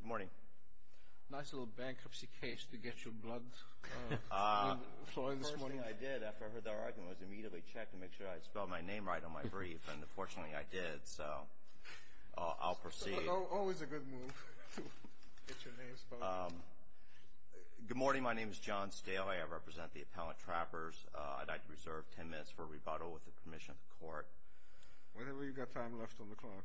Good morning. Nice little bankruptcy case to get your blood flowing this morning. The first thing I did after I heard that argument was immediately check and make sure I spelled my name right on my brief, and fortunately I did, so I'll proceed. Always a good move to get your name spelled right. Good morning. My name is John Stale. I represent the appellate trappers. I'd like to reserve ten minutes for rebuttal with the permission of the Court. Whenever you've got time left on the clock.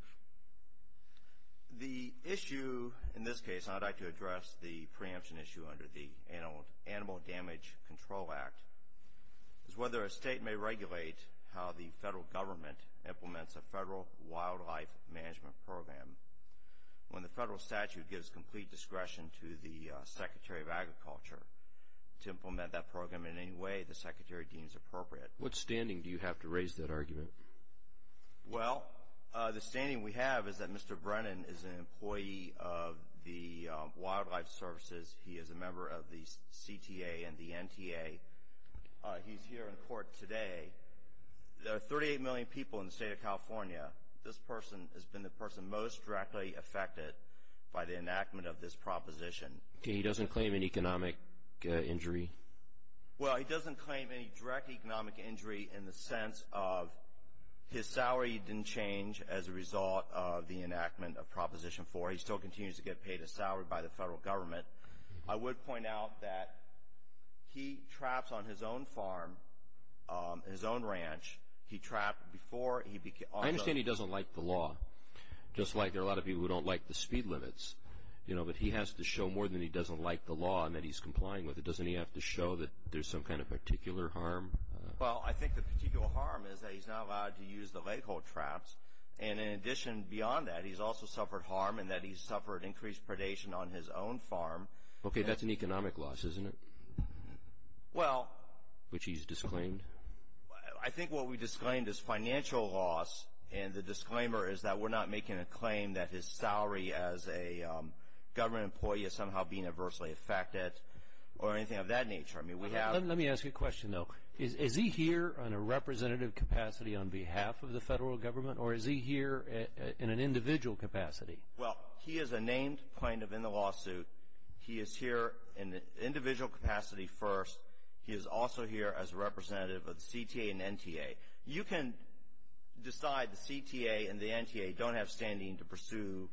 The issue in this case, and I'd like to address the preemption issue under the Animal Damage Control Act, is whether a state may regulate how the federal government implements a federal wildlife management program when the federal statute gives complete discretion to the Secretary of Agriculture to implement that program in any way the Secretary deems appropriate. Well, the standing we have is that Mr. Brennan is an employee of the Wildlife Services. He is a member of the CTA and the NTA. He's here in court today. There are 38 million people in the state of California. This person has been the person most directly affected by the enactment of this proposition. Okay, he doesn't claim an economic injury? Well, he doesn't claim any direct economic injury in the sense of his salary didn't change as a result of the enactment of Proposition 4. He still continues to get paid his salary by the federal government. I would point out that he traps on his own farm, his own ranch. He trapped before he began. I understand he doesn't like the law, just like there are a lot of people who don't like the speed limits. You know, but he has to show more than he doesn't like the law and that he's complying with it. Doesn't he have to show that there's some kind of particular harm? Well, I think the particular harm is that he's not allowed to use the leghold traps. And in addition, beyond that, he's also suffered harm in that he's suffered increased predation on his own farm. Okay, that's an economic loss, isn't it? Well – Which he's disclaimed. I think what we disclaimed is financial loss. And the disclaimer is that we're not making a claim that his salary as a government employee is somehow being adversely affected or anything of that nature. I mean, we have – Let me ask you a question, though. Is he here on a representative capacity on behalf of the federal government, or is he here in an individual capacity? Well, he is a named plaintiff in the lawsuit. He is here in an individual capacity first. He is also here as a representative of the CTA and NTA. You can decide the CTA and the NTA don't have standing to pursue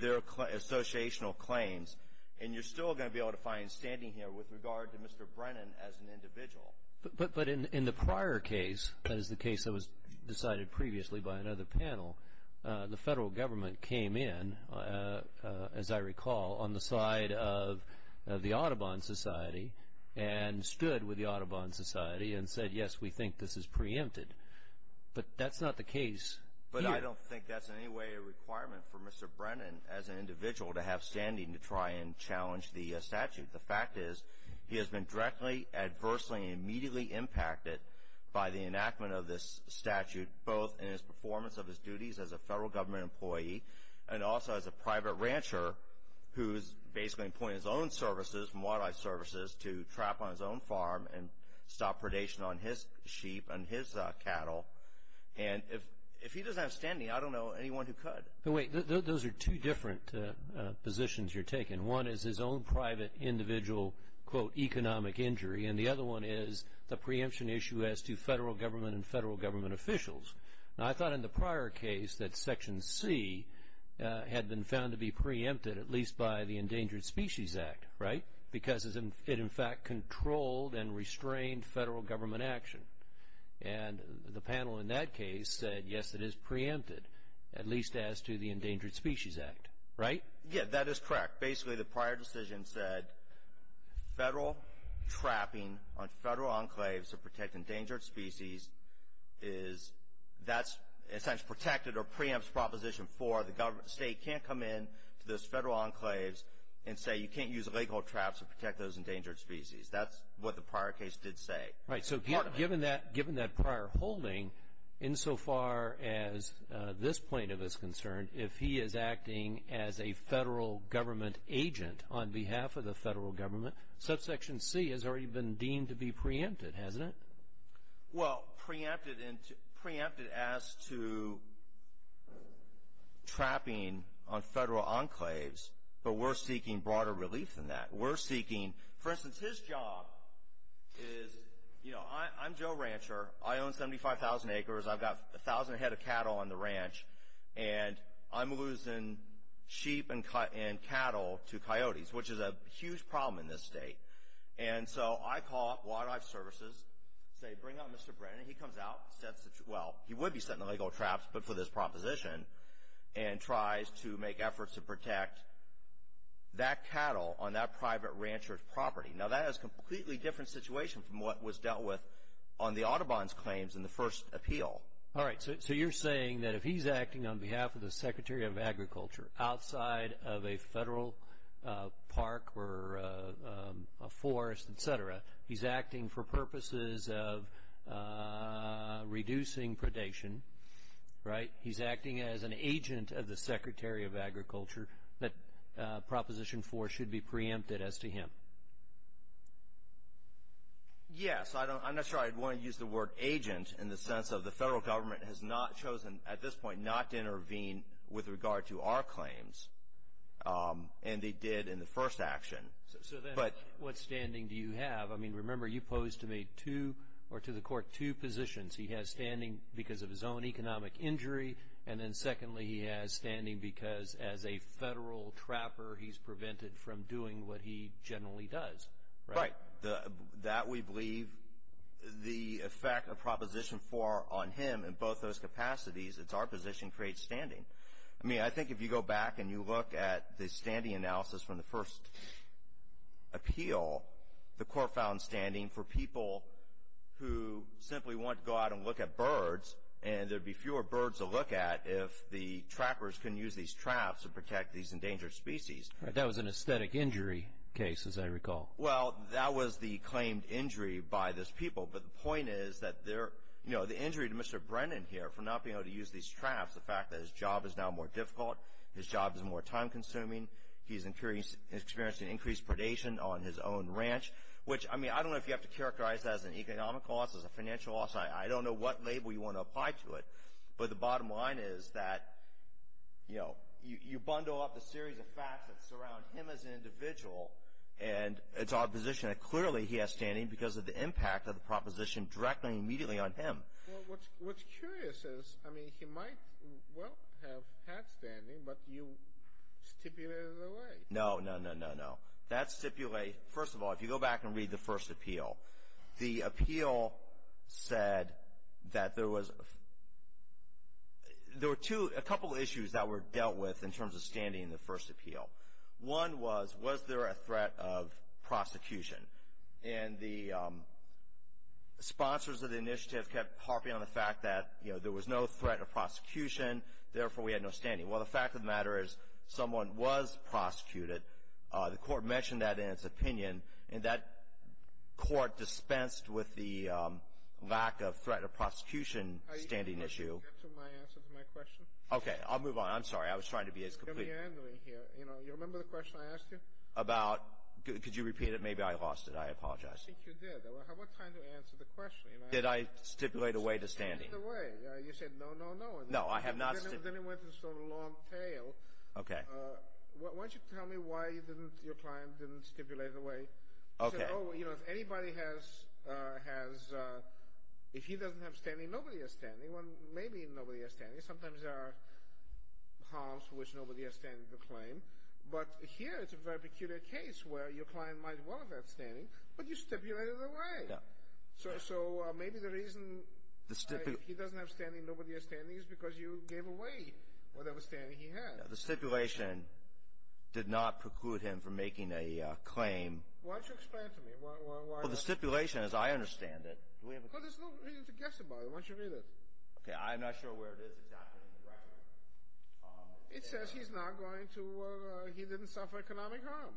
their associational claims, and you're still going to be able to find standing here with regard to Mr. Brennan as an individual. But in the prior case, that is the case that was decided previously by another panel, the federal government came in, as I recall, on the side of the Audubon Society and stood with the Audubon Society and said, yes, we think this is preempted. But that's not the case here. But I don't think that's in any way a requirement for Mr. Brennan as an individual to have standing to try and challenge the statute. The fact is he has been directly, adversely, and immediately impacted by the enactment of this statute, both in his performance of his duties as a federal government employee and also as a private rancher who is basically employing his own services, wildlife services, to trap on his own farm and stop predation on his sheep and his cattle. And if he doesn't have standing, I don't know anyone who could. But wait, those are two different positions you're taking. One is his own private individual, quote, economic injury, and the other one is the preemption issue as to federal government and federal government officials. Now, I thought in the prior case that Section C had been found to be preempted, at least by the Endangered Species Act, right, because it in fact controlled and restrained federal government action. And the panel in that case said, yes, it is preempted, at least as to the Endangered Species Act, right? Yeah, that is correct. Basically, the prior decision said federal trapping on federal enclaves to protect endangered species is that's in a sense protected or preempts Proposition 4. The state can't come in to those federal enclaves and say you can't use illegal traps to protect those endangered species. That's what the prior case did say. Right, so given that prior holding, insofar as this plaintiff is concerned, if he is acting as a federal government agent on behalf of the federal government, then Subsection C has already been deemed to be preempted, hasn't it? Well, preempted as to trapping on federal enclaves, but we're seeking broader relief than that. We're seeking, for instance, his job is, you know, I'm Joe Rancher. I own 75,000 acres. I've got 1,000 head of cattle on the ranch, and I'm losing sheep and cattle to coyotes, which is a huge problem in this state. And so I call Wildlife Services and say, Bring on Mr. Brennan. He comes out and sets the – well, he would be setting illegal traps, but for this proposition, and tries to make efforts to protect that cattle on that private rancher's property. Now, that is a completely different situation from what was dealt with on the Audubon's claims in the first appeal. All right, so you're saying that if he's acting on behalf of the Secretary of Agriculture outside of a federal park or a forest, et cetera, he's acting for purposes of reducing predation, right? He's acting as an agent of the Secretary of Agriculture, that Proposition 4 should be preempted as to him. Yes. I'm not sure I'd want to use the word agent in the sense of the federal government has not chosen, at this point, not to intervene with regard to our claims, and they did in the first action. So then what standing do you have? I mean, remember you posed to me two – or to the Court two positions. He has standing because of his own economic injury, and then secondly, he has standing because as a federal trapper, he's prevented from doing what he generally does, right? Right. That we believe the effect of Proposition 4 on him in both those capacities, it's our position, creates standing. I mean, I think if you go back and you look at the standing analysis from the first appeal, the Court found standing for people who simply want to go out and look at birds, and there'd be fewer birds to look at if the trappers couldn't use these traps to protect these endangered species. That was an aesthetic injury case, as I recall. Well, that was the claimed injury by those people. But the point is that the injury to Mr. Brennan here for not being able to use these traps, the fact that his job is now more difficult, his job is more time-consuming, he's experiencing increased predation on his own ranch, which, I mean, I don't know if you have to characterize that as an economic loss, as a financial loss. I don't know what label you want to apply to it. But the bottom line is that you bundle up a series of facts that surround him as an individual, and it's our position that clearly he has standing because of the impact of the proposition directly and immediately on him. Well, what's curious is, I mean, he might well have had standing, but you stipulated it away. No, no, no, no, no. That stipulate, first of all, if you go back and read the first appeal, the appeal said that there was a couple of issues that were dealt with in terms of standing in the first appeal. One was, was there a threat of prosecution? And the sponsors of the initiative kept harping on the fact that, you know, there was no threat of prosecution, therefore we had no standing. Well, the fact of the matter is someone was prosecuted. The court mentioned that in its opinion, and that court dispensed with the lack of threat of prosecution standing issue. Are you trying to get to my answer to my question? Okay, I'll move on. I'm sorry. I was trying to be as complete. You're meandering here. You know, you remember the question I asked you? About? Could you repeat it? Maybe I lost it. I apologize. I think you did. How about trying to answer the question? Did I stipulate away the standing? Stipulate away. You said no, no, no. No, I have not. Then it went to sort of a long tail. Okay. Why don't you tell me why your client didn't stipulate away? He said, oh, you know, if anybody has, if he doesn't have standing, nobody has standing. Well, maybe nobody has standing. Sometimes there are harms for which nobody has standing to claim. But here it's a very peculiar case where your client might want that standing, but you stipulated away. Yeah. So maybe the reason he doesn't have standing, nobody has standing, is because you gave away whatever standing he had. The stipulation did not preclude him from making a claim. Why don't you explain it to me? Well, the stipulation, as I understand it— Well, there's no reason to guess about it. Why don't you read it? Okay, I'm not sure where it is. It's not in the record. It says he's not going to, he didn't suffer economic harm.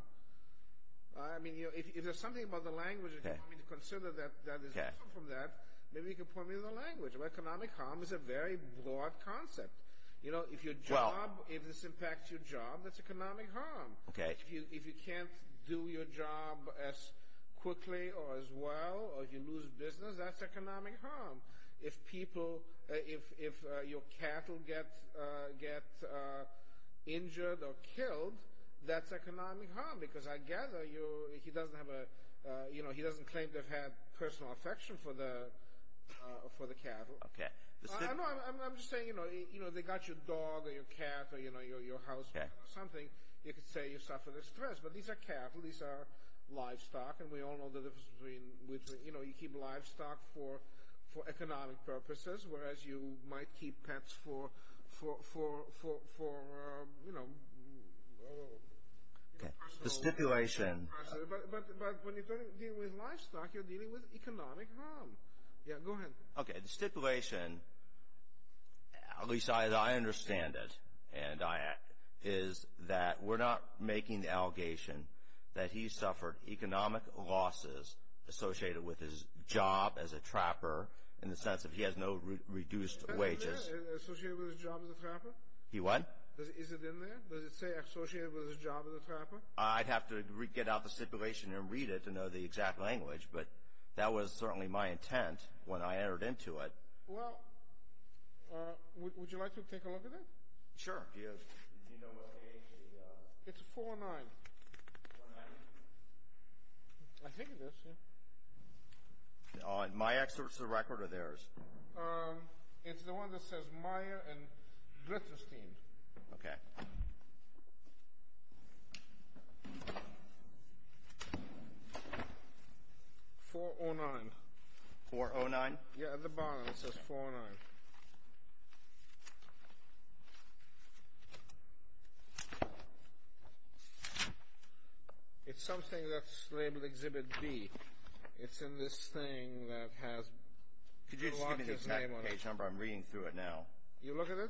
I mean, if there's something about the language that you want me to consider that is different from that, maybe you could point me to the language. Economic harm is a very broad concept. You know, if your job, if this impacts your job, that's economic harm. Okay. If you can't do your job as quickly or as well, or if you lose business, that's economic harm. If people, if your cattle get injured or killed, that's economic harm, because I gather he doesn't have a, you know, he doesn't claim to have had personal affection for the cattle. Okay. I'm just saying, you know, they got your dog or your cat or, you know, your house or something, you could say you suffered a stress, but these are cattle, these are livestock, and we all know the difference between, you know, you keep livestock for economic purposes, whereas you might keep pets for, you know, personal. The stipulation. But when you're dealing with livestock, you're dealing with economic harm. Yeah, go ahead. Okay, the stipulation, at least I understand it, is that we're not making the allegation that he suffered economic losses associated with his job as a trapper, in the sense that he has no reduced wages. Associated with his job as a trapper? He what? Is it in there? Does it say associated with his job as a trapper? I'd have to get out the stipulation and read it to know the exact language, but that was certainly my intent when I entered into it. Well, would you like to take a look at it? Sure. Do you know what age the? It's a 409. 409? I think it is, yeah. My excerpt is the record or theirs? It's the one that says Meyer and Glitterstein. Okay. 409. 409? Yeah, at the bottom it says 409. It's something that's labeled Exhibit B. It's in this thing that has a lot of his name on it. Could you just give me the exact page number? I'm reading through it now. You look at it?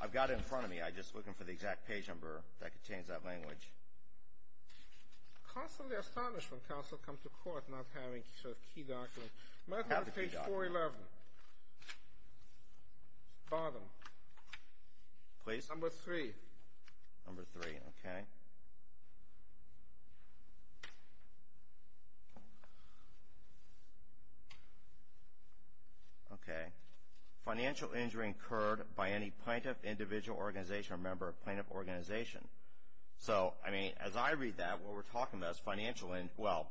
I've got it in front of me. I'm just looking for the exact page number that contains that language. Constantly astonished when counsel come to court not having a key document. May I have the page 411? Bottom. Please. Number 3. Number 3, okay. Okay. Financial injury incurred by any plaintiff, individual, organization or member of plaintiff organization. So, I mean, as I read that, what we're talking about is financial injury. Well,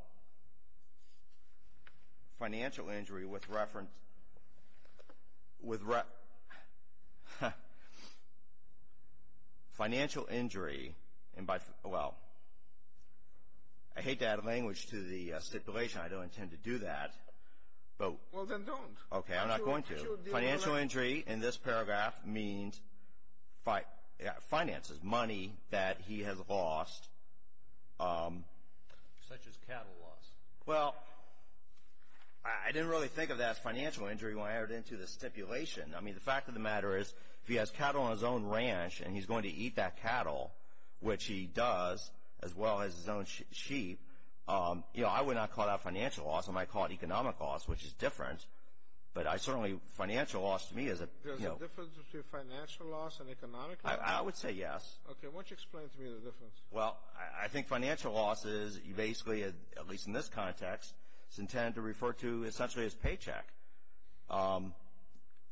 financial injury with reference. Financial injury, well, I hate to add language to the stipulation. I don't intend to do that. Well, then don't. Okay. I'm not going to. Financial injury in this paragraph means finances, money that he has lost. Such as cattle loss. Well, I didn't really think of that as financial injury when I entered into the stipulation. I mean, the fact of the matter is if he has cattle on his own ranch and he's going to eat that cattle, which he does, as well as his own sheep, you know, I would not call that financial loss. I might call it economic loss, which is different. But certainly financial loss to me is a, you know. There's a difference between financial loss and economic loss? I would say yes. Okay. Why don't you explain to me the difference? Well, I think financial loss is basically, at least in this context, it's intended to refer to essentially his paycheck.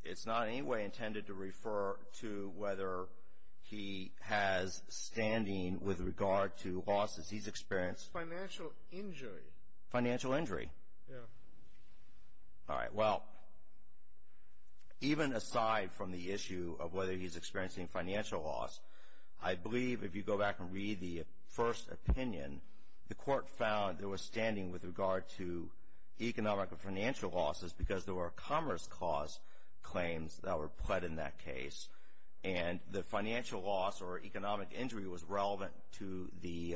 It's not in any way intended to refer to whether he has standing with regard to losses he's experienced. Financial injury. Financial injury. Yeah. All right. Well, even aside from the issue of whether he's experiencing financial loss, I believe if you go back and read the first opinion, the court found there was standing with regard to economic and financial losses because there were commerce cause claims that were pled in that case. And the financial loss or economic injury was relevant to the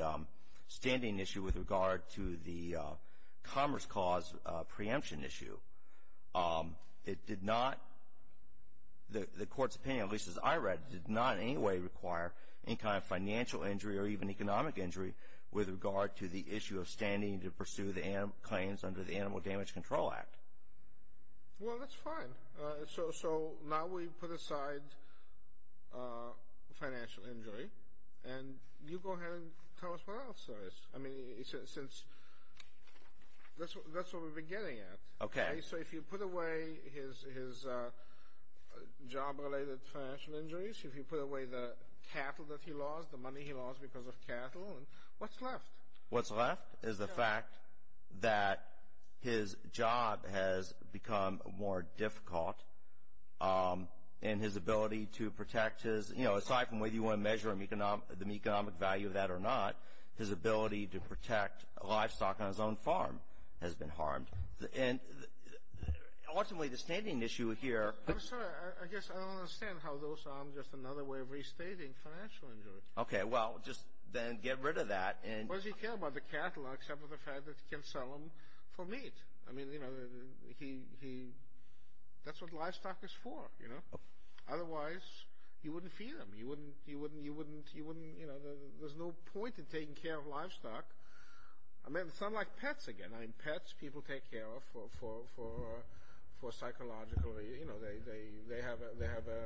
standing issue with regard to the commerce cause preemption issue. It did not, the court's opinion, at least as I read it, did not in any way require any kind of financial injury or even economic injury with regard to the issue of standing to pursue the claims under the Animal Damage Control Act. Well, that's fine. So now we put aside financial injury, and you go ahead and tell us what else there is. I mean, since that's what we're beginning at. Okay. So if you put away his job-related financial injuries, if you put away the cattle that he lost, the money he lost because of cattle, what's left? What's left is the fact that his job has become more difficult and his ability to protect his, you know, aside from whether you want to measure the economic value of that or not, his ability to protect livestock on his own farm has been harmed. And ultimately the standing issue here- I'm sorry. I guess I don't understand how those are just another way of restating financial injury. Okay. Well, just then get rid of that and- Why does he care about the cattle except for the fact that he can sell them for meat? I mean, you know, he, that's what livestock is for, you know. Otherwise, you wouldn't feed them. You wouldn't, you wouldn't, you wouldn't, you wouldn't, you know. There's no point in taking care of livestock. I mean, it's unlike pets again. I mean, pets people take care of for psychological, you know. They have a,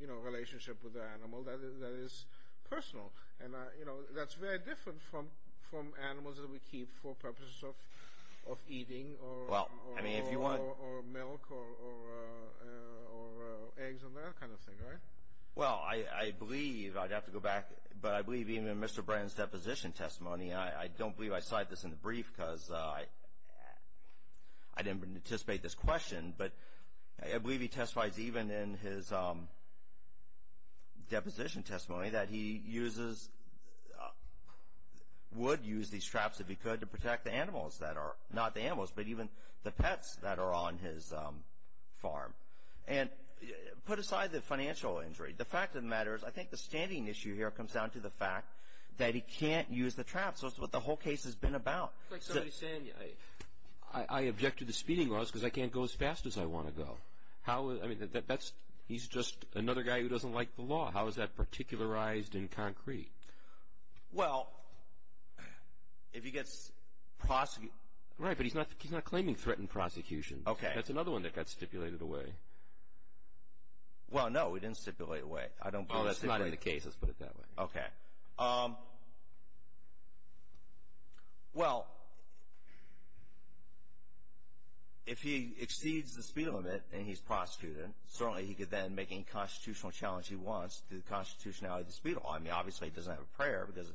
you know, relationship with the animal that is personal. And, you know, that's very different from animals that we keep for purposes of eating or- Well, I mean, if you want- Well, I believe, I'd have to go back, but I believe even in Mr. Brennan's deposition testimony, I don't believe I cite this in the brief because I didn't anticipate this question, but I believe he testifies even in his deposition testimony that he uses- would use these traps if he could to protect the animals that are- not the animals, but even the pets that are on his farm. And put aside the financial injury, the fact of the matter is, I think the standing issue here comes down to the fact that he can't use the traps. That's what the whole case has been about. It's like somebody saying, I object to the speeding laws because I can't go as fast as I want to go. How, I mean, that's, he's just another guy who doesn't like the law. How is that particularized in concrete? Well, if he gets prosecuted- Right, but he's not claiming threatened prosecution. Okay. That's another one that got stipulated away. Well, no, it didn't stipulate away. Oh, that's not in the case. Let's put it that way. Okay. Well, if he exceeds the speed limit and he's prosecuted, certainly he could then make any constitutional challenge he wants through the constitutionality of the speed law. I mean, obviously he doesn't have a prayer because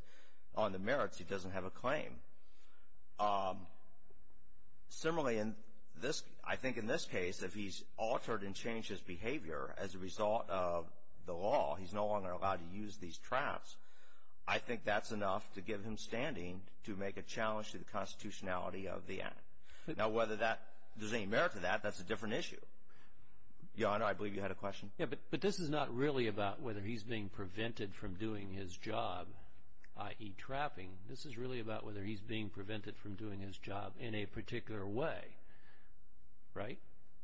on the merits he doesn't have a claim. Similarly, I think in this case, if he's altered and changed his behavior as a result of the law, he's no longer allowed to use these traps, I think that's enough to give him standing to make a challenge to the constitutionality of the act. Now, whether there's any merit to that, that's a different issue. Your Honor, I believe you had a question. Yeah, but this is not really about whether he's being prevented from doing his job, i.e. trapping. This is really about whether he's being prevented from doing his job in a particular way, right?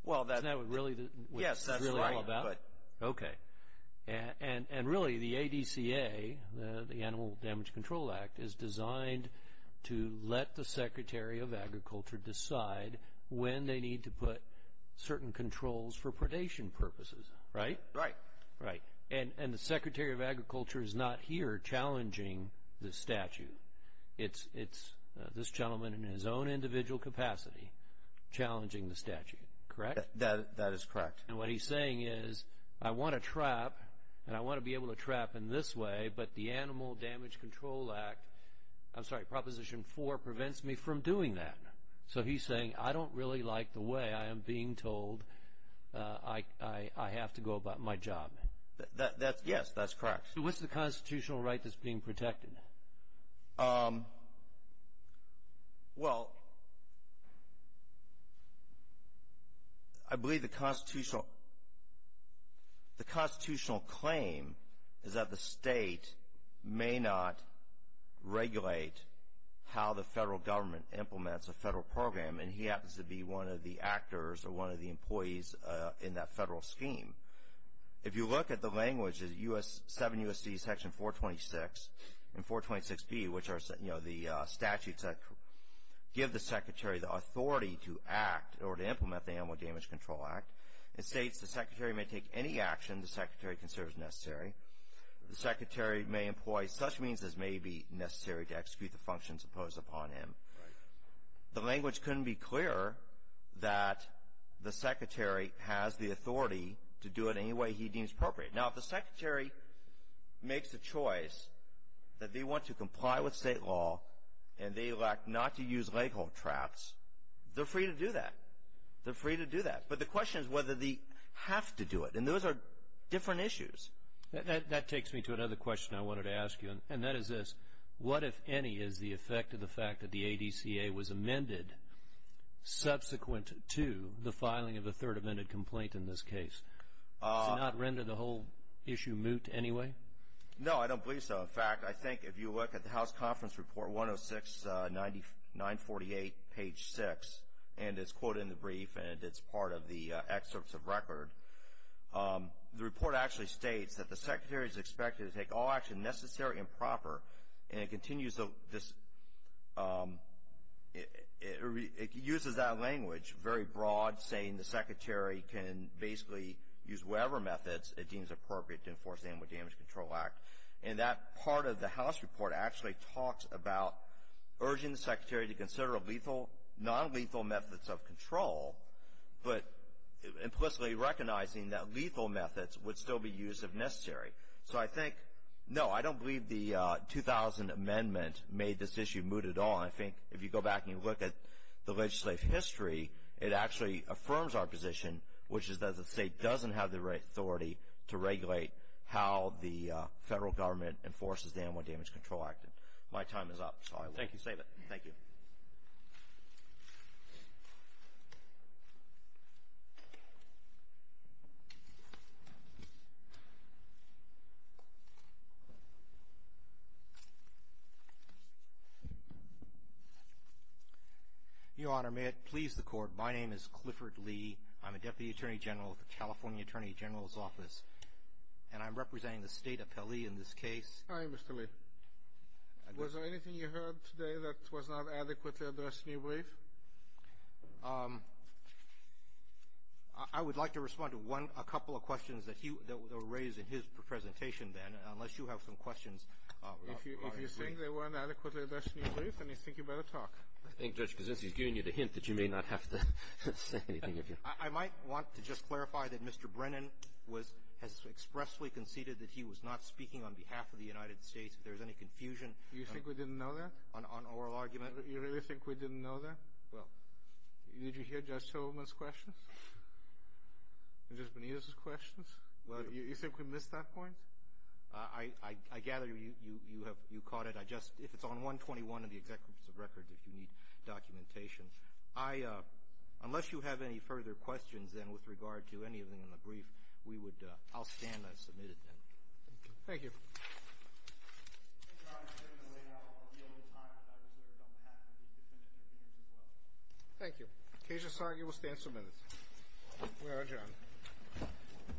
Isn't that what it's really all about? Yes, that's right. Okay. And really the ADCA, the Animal Damage Control Act, is designed to let the Secretary of Agriculture decide when they need to put certain controls for predation purposes, right? Right. Right. And the Secretary of Agriculture is not here challenging this statute. It's this gentleman in his own individual capacity challenging the statute, correct? That is correct. And what he's saying is, I want to trap and I want to be able to trap in this way, but the Animal Damage Control Act, I'm sorry, Proposition 4 prevents me from doing that. So, he's saying, I don't really like the way I am being told I have to go about my job. Yes, that's correct. So, what's the constitutional right that's being protected? Well, I believe the constitutional claim is that the state may not regulate how the federal government implements a federal program, and he happens to be one of the actors or one of the employees in that federal scheme. If you look at the language, 7 U.S.C. Section 426 and 426B, which are the statutes that give the Secretary the authority to act or to implement the Animal Damage Control Act, it states the Secretary may take any action the Secretary considers necessary. The Secretary may employ such means as may be necessary to execute the functions imposed upon him. Right. The language couldn't be clearer that the Secretary has the authority to do it any way he deems appropriate. Now, if the Secretary makes a choice that they want to comply with state law and they elect not to use leghold traps, they're free to do that. They're free to do that. But the question is whether they have to do it. And those are different issues. That takes me to another question I wanted to ask you, and that is this. What, if any, is the effect of the fact that the ADCA was amended subsequent to the filing of the third amended complaint in this case? Does it not render the whole issue moot anyway? No, I don't believe so. In fact, I think if you look at the House Conference Report 106-948, page 6, and it's quoted in the brief and it's part of the excerpts of record, the report actually states that the Secretary is expected to take all action necessary and proper, and it continues this, it uses that language very broad, saying the Secretary can basically use whatever methods it deems appropriate to enforce the Animal Damage Control Act. And that part of the House report actually talks about urging the Secretary to consider non-lethal methods of control, but implicitly recognizing that lethal methods would still be used if necessary. So I think, no, I don't believe the 2000 amendment made this issue mooted at all. And I think if you go back and you look at the legislative history, it actually affirms our position, which is that the state doesn't have the right authority to regulate how the federal government enforces the Animal Damage Control Act. My time is up, so I will save it. Thank you. Your Honor, may it please the Court, my name is Clifford Lee. I'm a Deputy Attorney General with the California Attorney General's Office, and I'm representing the State Appellee in this case. Hi, Mr. Lee. Was there anything you heard today that was not adequately addressed in your brief? I would like to respond to a couple of questions that were raised in his presentation then, unless you have some questions. If you think they weren't adequately addressed in your brief, then I think you'd better talk. I think, Judge Kasinsky, he's giving you the hint that you may not have to say anything. I might want to just clarify that Mr. Brennan has expressly conceded that he was not speaking on behalf of the United States, if there's any confusion. You think we didn't know that? On oral argument? You really think we didn't know that? Well, did you hear Judge Tillerman's questions? Judge Benitez's questions? You think we missed that point? I gather you caught it. If it's on 121 in the Executive Records, if you need documentation. Unless you have any further questions then with regard to anything in the brief, I'll stand and submit it then. Thank you. Thank you, Your Honor. I'm afraid we're running out of time, but I reserve it on behalf of the defendant and the defense as well. Thank you. Cajun Sargi will stand for a minute. We are adjourned.